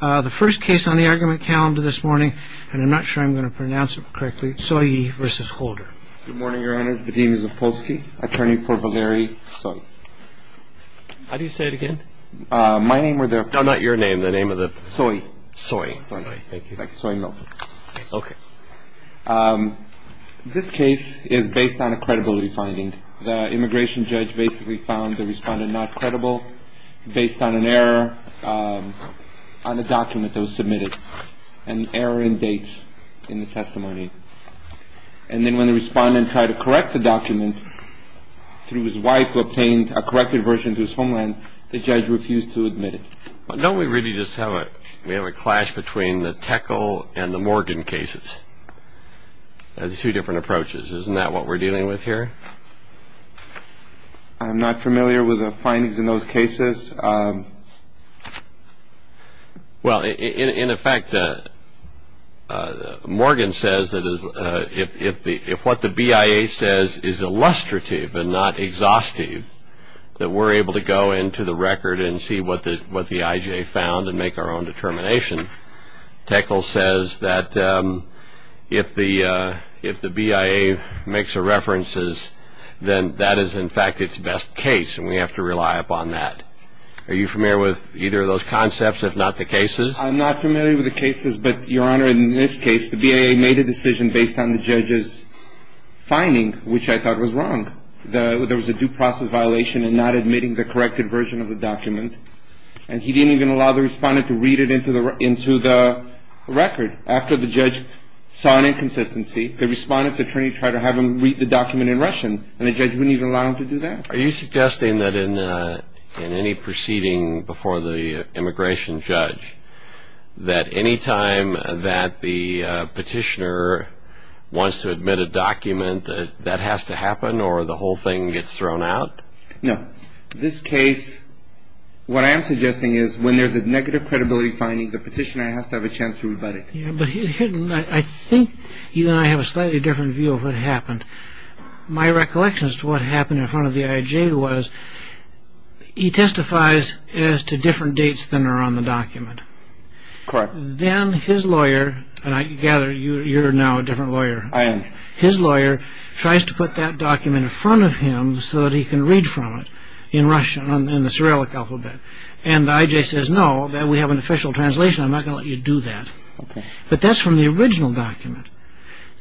The first case on the argument calendar this morning, and I'm not sure I'm going to pronounce it correctly, Tsoyi v. Holder. Good morning, Your Honors. Vadim Zapolsky, attorney for Valeri Tsoyi. How do you say it again? My name or the. No, not your name. The name of the Tsoyi. Tsoyi. Tsoyi. Thank you. Thank you, Tsoyi Milton. OK. This case is based on a credibility finding. The immigration judge basically found the respondent not credible based on an error on a document that was submitted, an error in dates in the testimony. And then when the respondent tried to correct the document through his wife who obtained a corrected version to his homeland, the judge refused to admit it. Don't we really just have a we have a clash between the Tickle and the Morgan cases as two different approaches? Isn't that what we're dealing with here? I'm not familiar with the findings in those cases. Well, in effect, Morgan says that if what the BIA says is illustrative and not exhaustive, that we're able to go into the record and see what the what the IJ found and make our own determination. Tickle says that if the if the BIA makes a references, then that is, in fact, its best case. And we have to rely upon that. Are you familiar with either of those concepts, if not the cases? I'm not familiar with the cases. But, Your Honor, in this case, the BIA made a decision based on the judge's finding, which I thought was wrong. There was a due process violation in not admitting the corrected version of the document. And he didn't even allow the respondent to read it into the into the record. After the judge saw an inconsistency, the respondent's attorney tried to have him read the document in Russian. And the judge wouldn't even allow him to do that. Are you suggesting that in any proceeding before the immigration judge, that any time that the petitioner wants to admit a document that that has to happen or the whole thing gets thrown out? No. This case, what I am suggesting is when there's a negative credibility finding, the petitioner has to have a chance to rebut it. Yeah, but I think you and I have a slightly different view of what happened. My recollections to what happened in front of the IJ was he testifies as to different dates than are on the document. Correct. Then his lawyer and I gather you're now a different lawyer. I am. His lawyer tries to put that document in front of him so that he can read from it in Russian and the Cyrillic alphabet. And IJ says, no, we have an official translation. I'm not going to let you do that. But that's from the original document.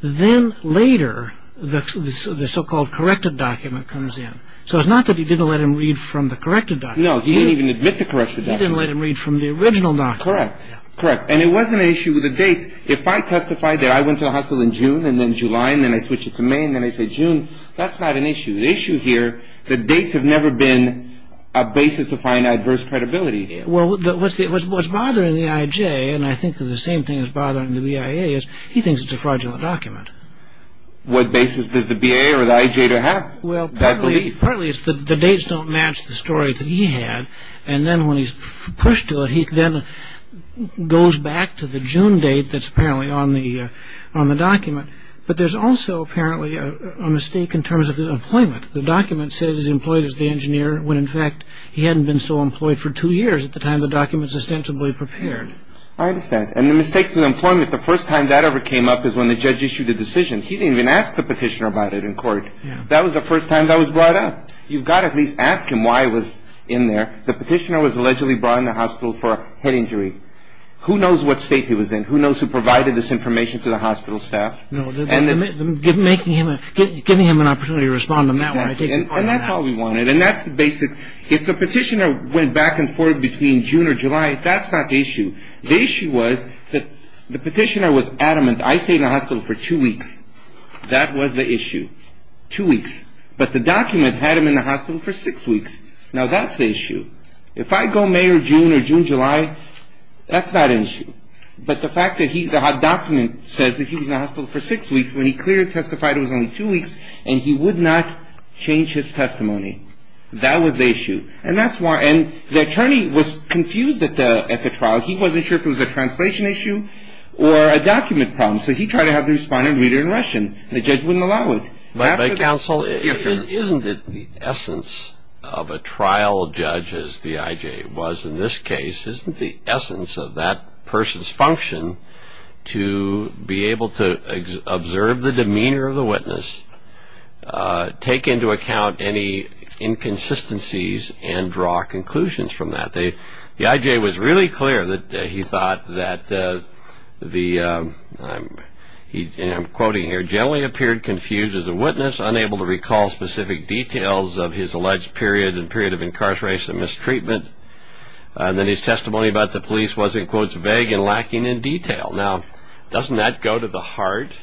Then later, the so-called corrected document comes in. So it's not that he didn't let him read from the corrected document. No, he didn't even admit the corrected document. He didn't let him read from the original document. Correct. Correct. And it wasn't an issue with the dates. If I testified that I went to the hospital in June and then July and then I switch it to May and then I say June, that's not an issue. The issue here, the dates have never been a basis to find adverse credibility. Well, what's bothering the IJ, and I think the same thing is bothering the BIA, is he thinks it's a fraudulent document. What basis does the BIA or the IJ have? Well, partly it's the dates don't match the story that he had. And then when he's pushed to it, he then goes back to the June date that's apparently on the on the document. But there's also apparently a mistake in terms of employment. The document says he's employed as the engineer when, in fact, he hadn't been so employed for two years at the time the documents ostensibly prepared. I understand. And the mistakes in employment, the first time that ever came up is when the judge issued a decision. He didn't even ask the petitioner about it in court. That was the first time that was brought up. You've got to at least ask him why it was in there. The petitioner was allegedly brought in the hospital for a head injury. Who knows what state he was in? Who knows who provided this information to the hospital staff? No, giving him an opportunity to respond on that one, I take it. And that's all we wanted. And that's the basic. If the petitioner went back and forth between June or July, that's not the issue. The issue was that the petitioner was adamant. I stayed in the hospital for two weeks. That was the issue. Two weeks. But the document had him in the hospital for six weeks. Now, that's the issue. If I go May or June or June, July, that's not an issue. But the fact that the document says that he was in the hospital for six weeks, when he clearly testified it was only two weeks and he would not change his testimony. That was the issue. And that's why. And the attorney was confused at the trial. He wasn't sure if it was a translation issue or a document problem. So he tried to have the respondent read it in Russian. The judge wouldn't allow it. But counsel, isn't it the essence of a trial judge, as the I.J. was in this case, isn't the essence of that person's function to be able to observe the demeanor of the witness, take into account any inconsistencies and draw conclusions from that? The I.J. was really clear that he thought that the, and I'm quoting here, he generally appeared confused as a witness, unable to recall specific details of his alleged period and period of incarceration and mistreatment. And that his testimony about the police was, in quotes, vague and lacking in detail. Now, doesn't that go to the heart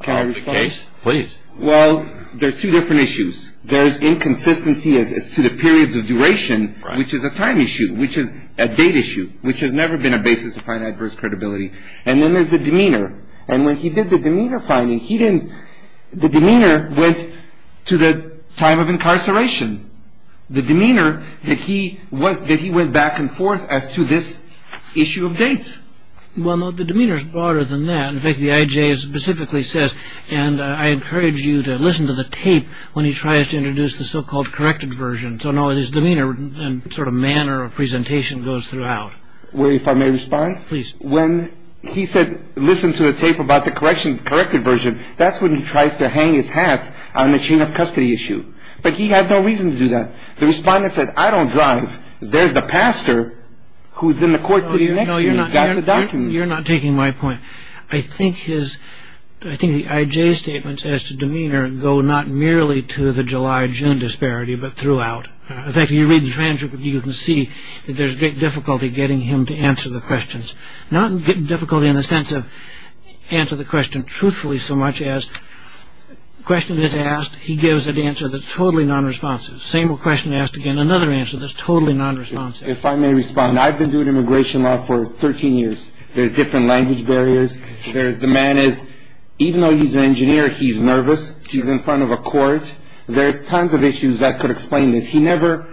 of the case? Please. Well, there's two different issues. There's inconsistency as to the periods of duration, which is a time issue, which is a date issue, which has never been a basis to find adverse credibility. And then there's the demeanor. And when he did the demeanor finding, he didn't, the demeanor went to the time of incarceration. The demeanor, the key was that he went back and forth as to this issue of dates. Well, no, the demeanor's broader than that. In fact, the I.J. specifically says, and I encourage you to listen to the tape when he tries to introduce the so-called corrected version. So, no, his demeanor and sort of manner of presentation goes throughout. Well, if I may respond? Please. When he said, listen to the tape about the corrected version, that's when he tries to hang his hat on the chain of custody issue. But he had no reason to do that. The respondent said, I don't drive. There's the pastor who's in the court sitting next to me. He's got the document. You're not taking my point. I think his, I think the I.J.'s statements as to demeanor go not merely to the July, June disparity, but throughout. In fact, if you read the transcript, you can see that there's great difficulty getting him to answer the questions, not difficulty in the sense of answer the question truthfully so much as question is asked, he gives an answer that's totally nonresponsive. Same question asked again, another answer that's totally nonresponsive. If I may respond, I've been doing immigration law for 13 years. There's different language barriers. There's the man is, even though he's an engineer, he's nervous. He's in front of a court. There's tons of issues that could explain this. He never,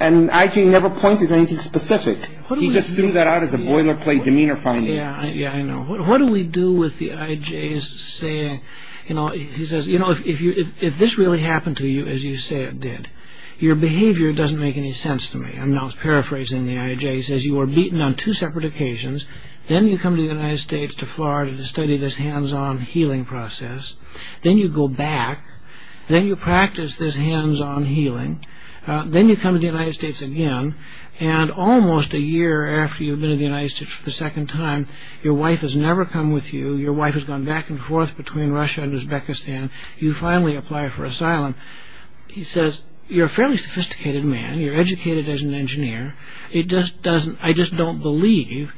and I.J. never pointed to anything specific. He just threw that out as a boilerplate demeanor finding. Yeah, yeah, I know. What do we do with the I.J.'s saying, you know, he says, you know, if this really happened to you as you say it did, your behavior doesn't make any sense to me. I'm now paraphrasing the I.J. He says, you were beaten on two separate occasions. Then you come to the United States, to Florida to study this hands-on healing process. Then you go back. Then you practice this hands-on healing. Then you come to the United States again. And almost a year after you've been in the United States for the second time, your wife has never come with you. Your wife has gone back and forth between Russia and Uzbekistan. You finally apply for asylum. He says, you're a fairly sophisticated man. You're educated as an engineer. It just doesn't, I just don't believe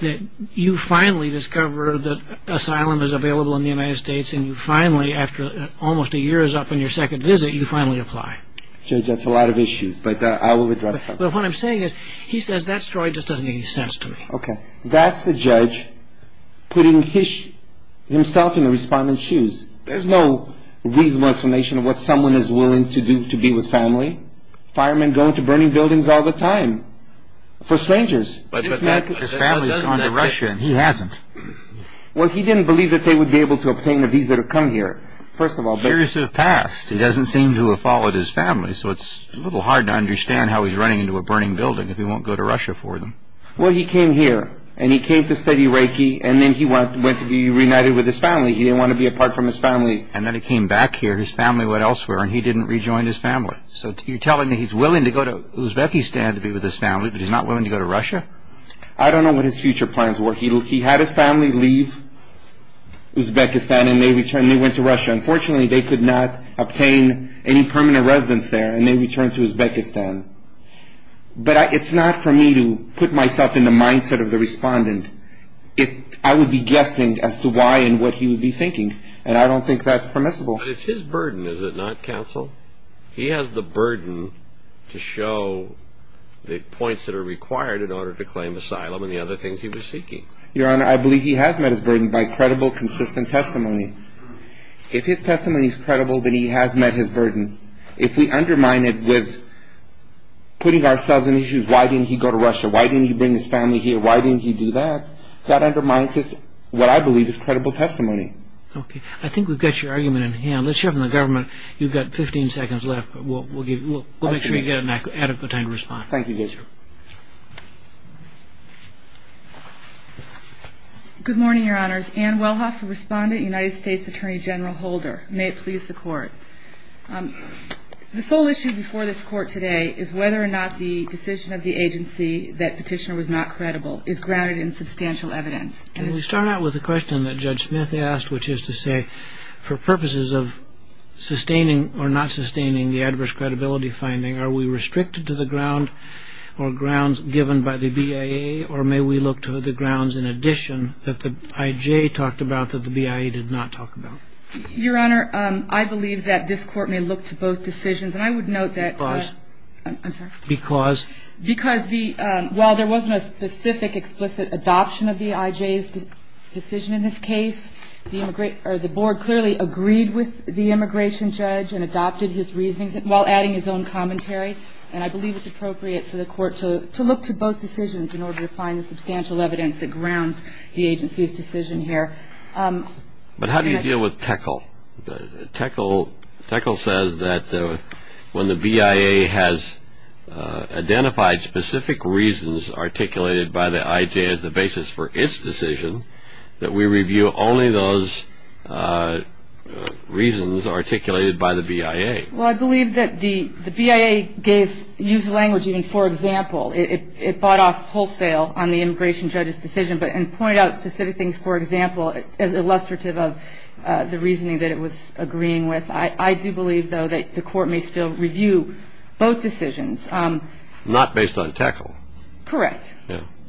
that you finally discover that asylum is available in the United States. And you finally, after almost a year is up in your second visit, you finally apply. Judge, that's a lot of issues, but I will address them. But what I'm saying is, he says that story just doesn't make any sense to me. Okay. That's the judge putting himself in the respondent's shoes. There's no reasonable explanation of what someone is willing to do to be with family. Firemen go into burning buildings all the time for strangers. But his family's gone to Russia and he hasn't. Well, he didn't believe that they would be able to obtain a visa to come here. First of all, but- Years have passed. He doesn't seem to have followed his family, so it's a little hard to understand how he's running into a burning building if he won't go to Russia for them. Well, he came here, and he came to study Reiki, and then he went to be reunited with his family. He didn't want to be apart from his family. And then he came back here, his family went elsewhere, and he didn't rejoin his family. So you're telling me he's willing to go to Uzbekistan to be with his family, but he's not willing to go to Russia? I don't know what his future plans were. He had his family leave Uzbekistan, and they went to Russia. Unfortunately, they could not obtain any permanent residence there, and they returned to Uzbekistan. But it's not for me to put myself in the mindset of the respondent. I would be guessing as to why and what he would be thinking. And I don't think that's permissible. But it's his burden, is it not, counsel? He has the burden to show the points that are required in order to claim asylum and the other things he was seeking. Your Honor, I believe he has met his burden by credible, consistent testimony. If his testimony is credible, then he has met his burden. If we undermine it with putting ourselves in issues, why didn't he go to Russia? Why didn't he bring his family here? Why didn't he do that? That undermines what I believe is credible testimony. Okay, I think we've got your argument in hand. Let's hear from the government. You've got 15 seconds left, but we'll make sure you get an adequate time to respond. Thank you, Judge. Good morning, Your Honors. Ann Wellhoff, a respondent, United States Attorney General Holder. May it please the Court. The sole issue before this Court today is whether or not the decision of the agency that petitioner was not credible is grounded in substantial evidence. Can we start out with the question that Judge Smith asked, which is to say, for purposes of sustaining or not sustaining the adverse credibility finding, are we restricted to the ground or grounds given by the BIA? Or may we look to the grounds in addition that the IJ talked about that the BIA did not talk about? Your Honor, I believe that this Court may look to both decisions. And I would note that- Because? I'm sorry? Because? Because the, while there wasn't a specific explicit adoption of the IJ's decision in this case, the board clearly agreed with the immigration judge and adopted his reasoning while adding his own commentary. And I believe it's appropriate for the Court to look to both decisions in order to find the substantial evidence that grounds the agency's decision here. But how do you deal with Teckle? Teckle says that when the BIA has identified specific reasons articulated by the IJ as the basis for its decision, that we review only those reasons articulated by the BIA. Well, I believe that the BIA gave, used language, even for example, it bought off wholesale on the immigration judge's decision, but and pointed out specific things, for example, as illustrative of the reasoning that it was agreeing with. I do believe, though, that the Court may still review both decisions. Not based on Teckle? Correct.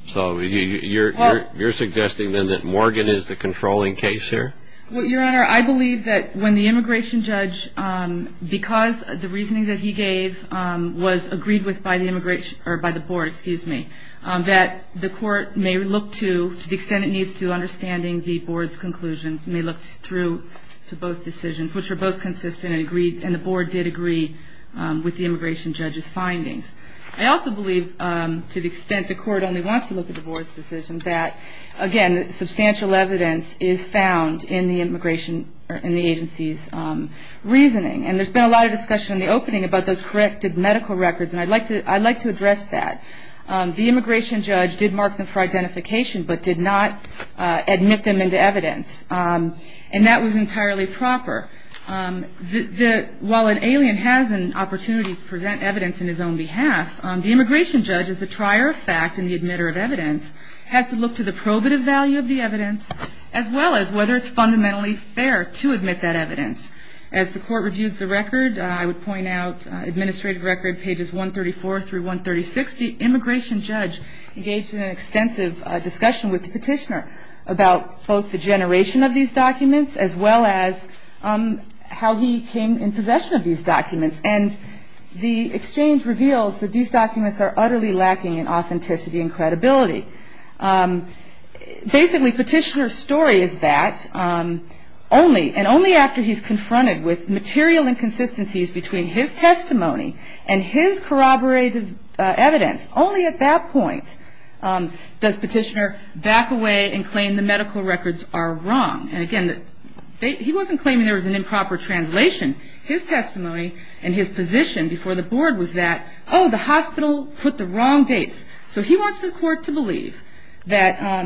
So you're suggesting then that Morgan is the controlling case here? Well, Your Honor, I believe that when the immigration judge, because the reasoning that he gave was agreed with by the immigration, or by the board, excuse me, that the court may look to, to the extent it needs to, understanding the board's conclusions, may look through to both decisions, which were both consistent and agreed, and the board did agree with the immigration judge's findings. I also believe, to the extent the court only wants to look at the board's decision, that, again, substantial evidence is found in the immigration, in the agency's reasoning. And there's been a lot of discussion in the opening about those corrected medical records, and I'd like to, I'd like to address that. The immigration judge did mark them for identification, but did not admit them into evidence. And that was entirely proper. While an alien has an opportunity to present evidence in his own behalf, the immigration judge is the trier of fact and the admitter of evidence, has to look to the probative value of the evidence, as well as whether it's fundamentally fair to admit that evidence. As the court reviews the record, I would point out, administrative record, pages 134 through 136, the immigration judge engaged in an extensive discussion with the petitioner about both the generation of these documents, as well as how he came in possession of these documents. And the exchange reveals that these documents are utterly lacking in authenticity and credibility. Basically, petitioner's story is that only, and only after he's confronted with material inconsistencies between his testimony and his corroborated evidence, only at that point does petitioner back away and claim the medical records are wrong. And, again, he wasn't claiming there was an improper translation. His testimony and his position before the board was that, oh, the hospital put the wrong dates. So he wants the court to believe that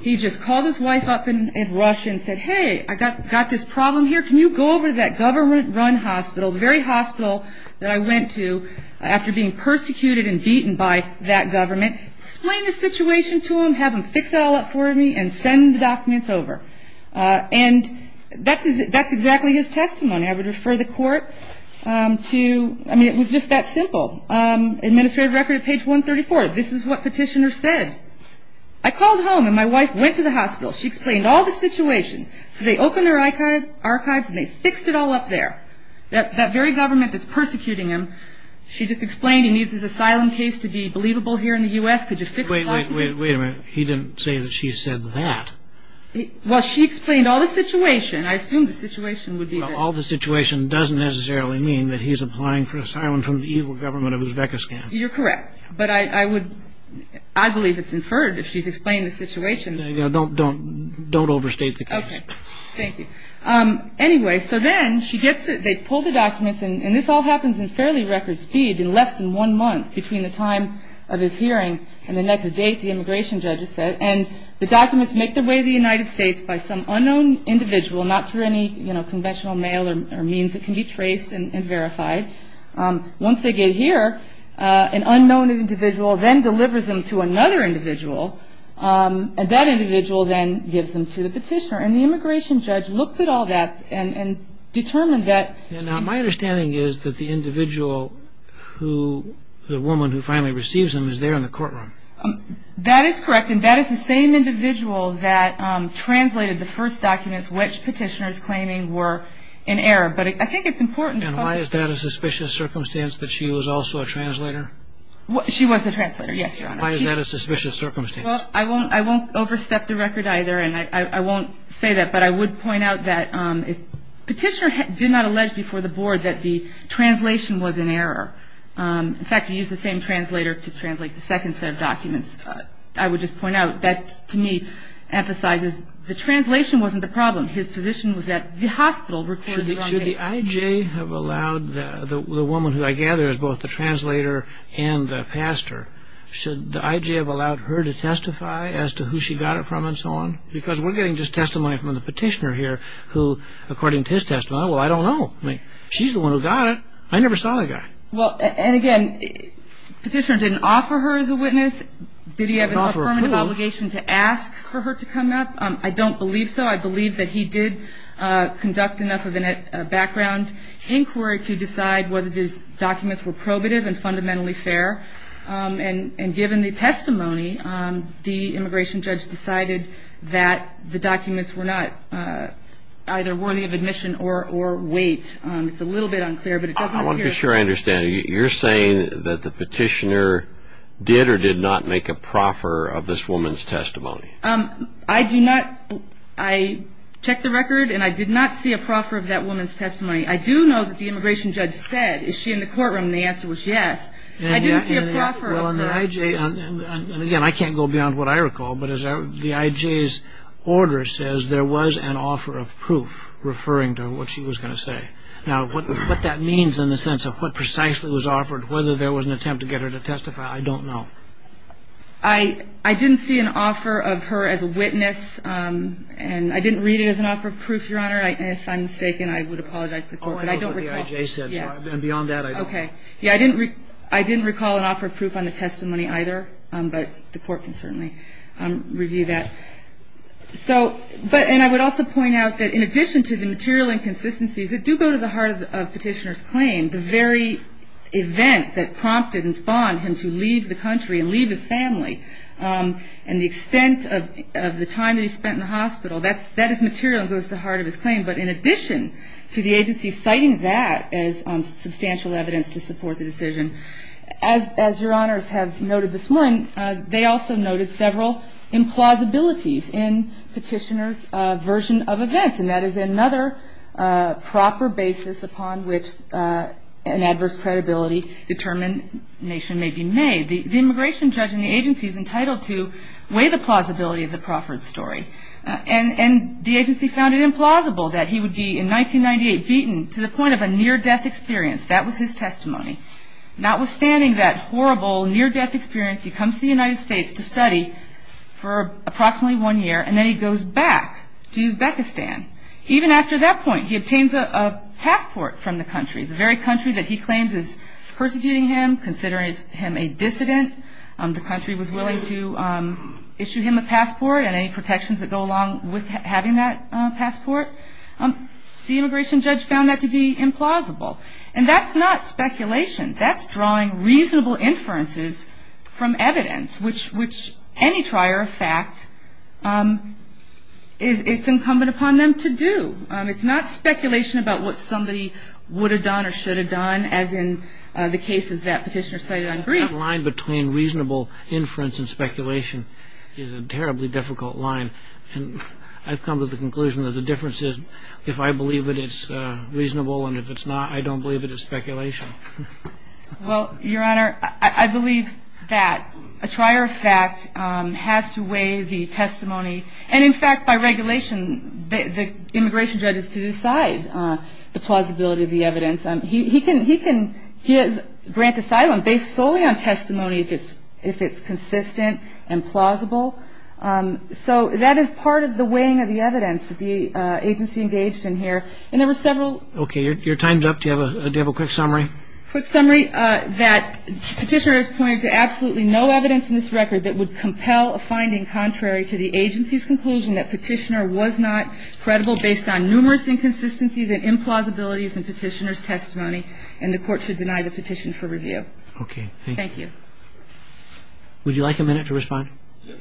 he just called his wife up in a rush and said, hey, I got this problem here. Can you go over to that government-run hospital, the very hospital that I went to after being persecuted and beaten by that government, explain the situation to them, have them fix it all up for me, and send the documents over. And that's exactly his testimony. I would refer the court to, I mean, it was just that simple. Administrative record at page 134. This is what petitioner said. I called home, and my wife went to the hospital. She explained all the situation. So they opened their archives, and they fixed it all up there. That very government that's persecuting him, she just explained he needs his asylum case to be believable here in the U.S. Could you fix the documents? Wait a minute. He didn't say that she said that. Well, she explained all the situation. I assumed the situation would be this. All the situation doesn't necessarily mean that he's applying for asylum from the evil government of Uzbekistan. You're correct. But I would, I believe it's inferred if she's explained the situation. Don't overstate the case. Thank you. Anyway, so then she gets it. They pull the documents, and this all happens in fairly record speed, in less than one month between the time of his hearing and the next date, the immigration judge has said, and the documents make their way to the United States by some unknown individual, not through any, you know, conventional mail or means that can be traced and verified. Once they get here, an unknown individual then delivers them to another individual, and that individual then gives them to the petitioner. And the immigration judge looked at all that and determined that. Now, my understanding is that the individual who, the woman who finally receives them is there in the courtroom. That is correct. And that is the same individual that translated the first documents which petitioners claiming were in error. But I think it's important. And why is that a suspicious circumstance that she was also a translator? She was a translator. Yes. Why is that a suspicious circumstance? I won't, I won't overstep the record either. And I won't say that, but I would point out that the petitioner did not allege before the board that the translation was in error. In fact, he used the same translator to translate the second set of documents. I would just point out that, to me, emphasizes the translation wasn't the problem. His position was that the hospital recorded the wrong case. Should the IJ have allowed, the woman who I gather is both the translator and the pastor, should the IJ have allowed her to testify as to who she got it from and so on? Because we're getting just testimony from the petitioner here who, according to his testimony, well, I don't know. I mean, she's the one who got it. I never saw the guy. Well, and again, petitioner didn't offer her as a witness. Did he have an affirmative obligation to ask for her to come up? I don't believe so. I believe that he did conduct enough of a background inquiry to decide whether these documents were probative and fundamentally fair. And given the testimony, the immigration judge decided that the documents were not either worthy of admission or weight. It's a little bit unclear, but it doesn't appear. I want to be sure I understand. You're saying that the petitioner did or did not make a proffer of this woman's testimony? I do not. I checked the record, and I did not see a proffer of that woman's testimony. I do know that the immigration judge said, is she in the courtroom? And the answer was yes. I didn't see a proffer of her. And the IJ, and again, I can't go beyond what I recall, but the IJ's order says there was an offer of proof referring to what she was going to say. Now, what that means in the sense of what precisely was offered, whether there was an attempt to get her to testify, I don't know. I didn't see an offer of her as a witness, and I didn't read it as an offer of proof, Your Honor. If I'm mistaken, I would apologize to the court. Oh, I know what the IJ said, and beyond that, I don't know. Okay, yeah, I didn't recall an offer of proof on the testimony, either, but the court can certainly review that. So, but, and I would also point out that in addition to the material inconsistencies that do go to the heart of petitioner's claim, the very event that prompted and spawned him to leave the country and leave his family, and the extent of the time that he spent in the hospital, that is material and goes to the heart of his claim. But in addition to the agency citing that as substantial evidence to support the decision, as Your Honors have noted this morning, they also noted several implausibilities in petitioner's version of events, and that is another proper basis upon which an adverse credibility determination may be made. The immigration judge in the agency is entitled to weigh the plausibility of the Crawford story, and the agency found it implausible that he would be, in 1998, beaten to the point of a near-death experience. That was his testimony. Notwithstanding that horrible near-death experience, he comes to the United States to study for approximately one year, and then he goes back to Uzbekistan. Even after that point, he obtains a passport from the country, the very country that he claims is persecuting him, considering him a dissident. The country was willing to issue him a passport and any protections that go along with having that passport. The immigration judge found that to be implausible. And that's not speculation. That's drawing reasonable inferences from evidence, which any trier of fact, it's incumbent upon them to do. It's not speculation about what somebody would have done or should have done, as in the cases that Petitioner cited on brief. The line between reasonable inference and speculation is a terribly difficult line. And I've come to the conclusion that the difference is if I believe it, it's reasonable, and if it's not, I don't believe it is speculation. Well, Your Honor, I believe that a trier of fact has to weigh the testimony. And in fact, by regulation, the immigration judge has to decide the plausibility of the evidence. He can grant asylum based solely on testimony if it's consistent and plausible. So that is part of the weighing of the evidence that the agency engaged in here. And there were several. Okay, your time's up. Do you have a quick summary? Quick summary that Petitioner has pointed to absolutely no evidence in this record that would compel a finding contrary to the agency. And the agency's conclusion that Petitioner was not credible based on numerous inconsistencies and implausibilities in Petitioner's testimony. And the Court should deny the petition for review. Okay, thank you. Thank you. Would you like a minute to respond? Yes.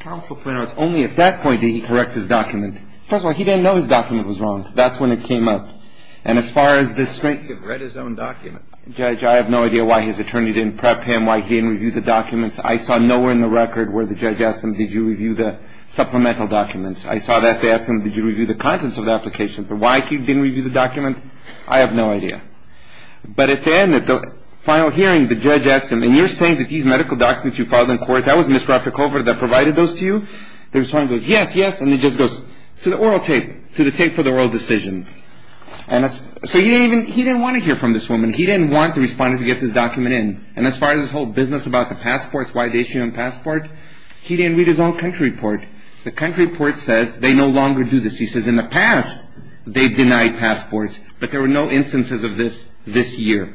Counsel Plano, it's only at that point did he correct his document. First of all, he didn't know his document was wrong. That's when it came up. And as far as this string, he read his own document. Judge, I have no idea why his attorney didn't prep him, why he didn't review the documents. I saw nowhere in the record where the judge asked him, did you review the supplemental documents? I saw that they asked him, did you review the contents of the application? But why he didn't review the document, I have no idea. But at the end, at the final hearing, the judge asked him, and you're saying that these medical documents you filed in court, that was Ms. Raffer-Covert that provided those to you? The respondent goes, yes, yes. And he just goes, to the oral tape, to the tape for the oral decision. So he didn't want to hear from this woman. He didn't want the respondent to get this document in. And as far as this whole business about the passports, why they issued him a passport, he didn't read his own country report. The country report says they no longer do this. He says, in the past, they denied passports, but there were no instances of this this year.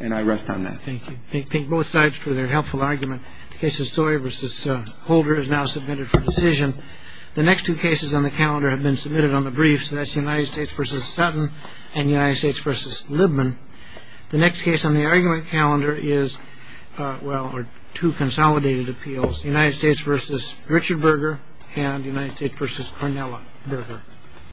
And I rest on that. Thank you. Thank both sides for their helpful argument. The case of Sawyer v. Holder is now submitted for decision. The next two cases on the calendar have been submitted on the briefs. That's the United States v. Sutton and the United States v. Libman. The next case on the argument calendar is, well, are two consolidated appeals, United States v. Richard Berger and United States v. Cornella Berger.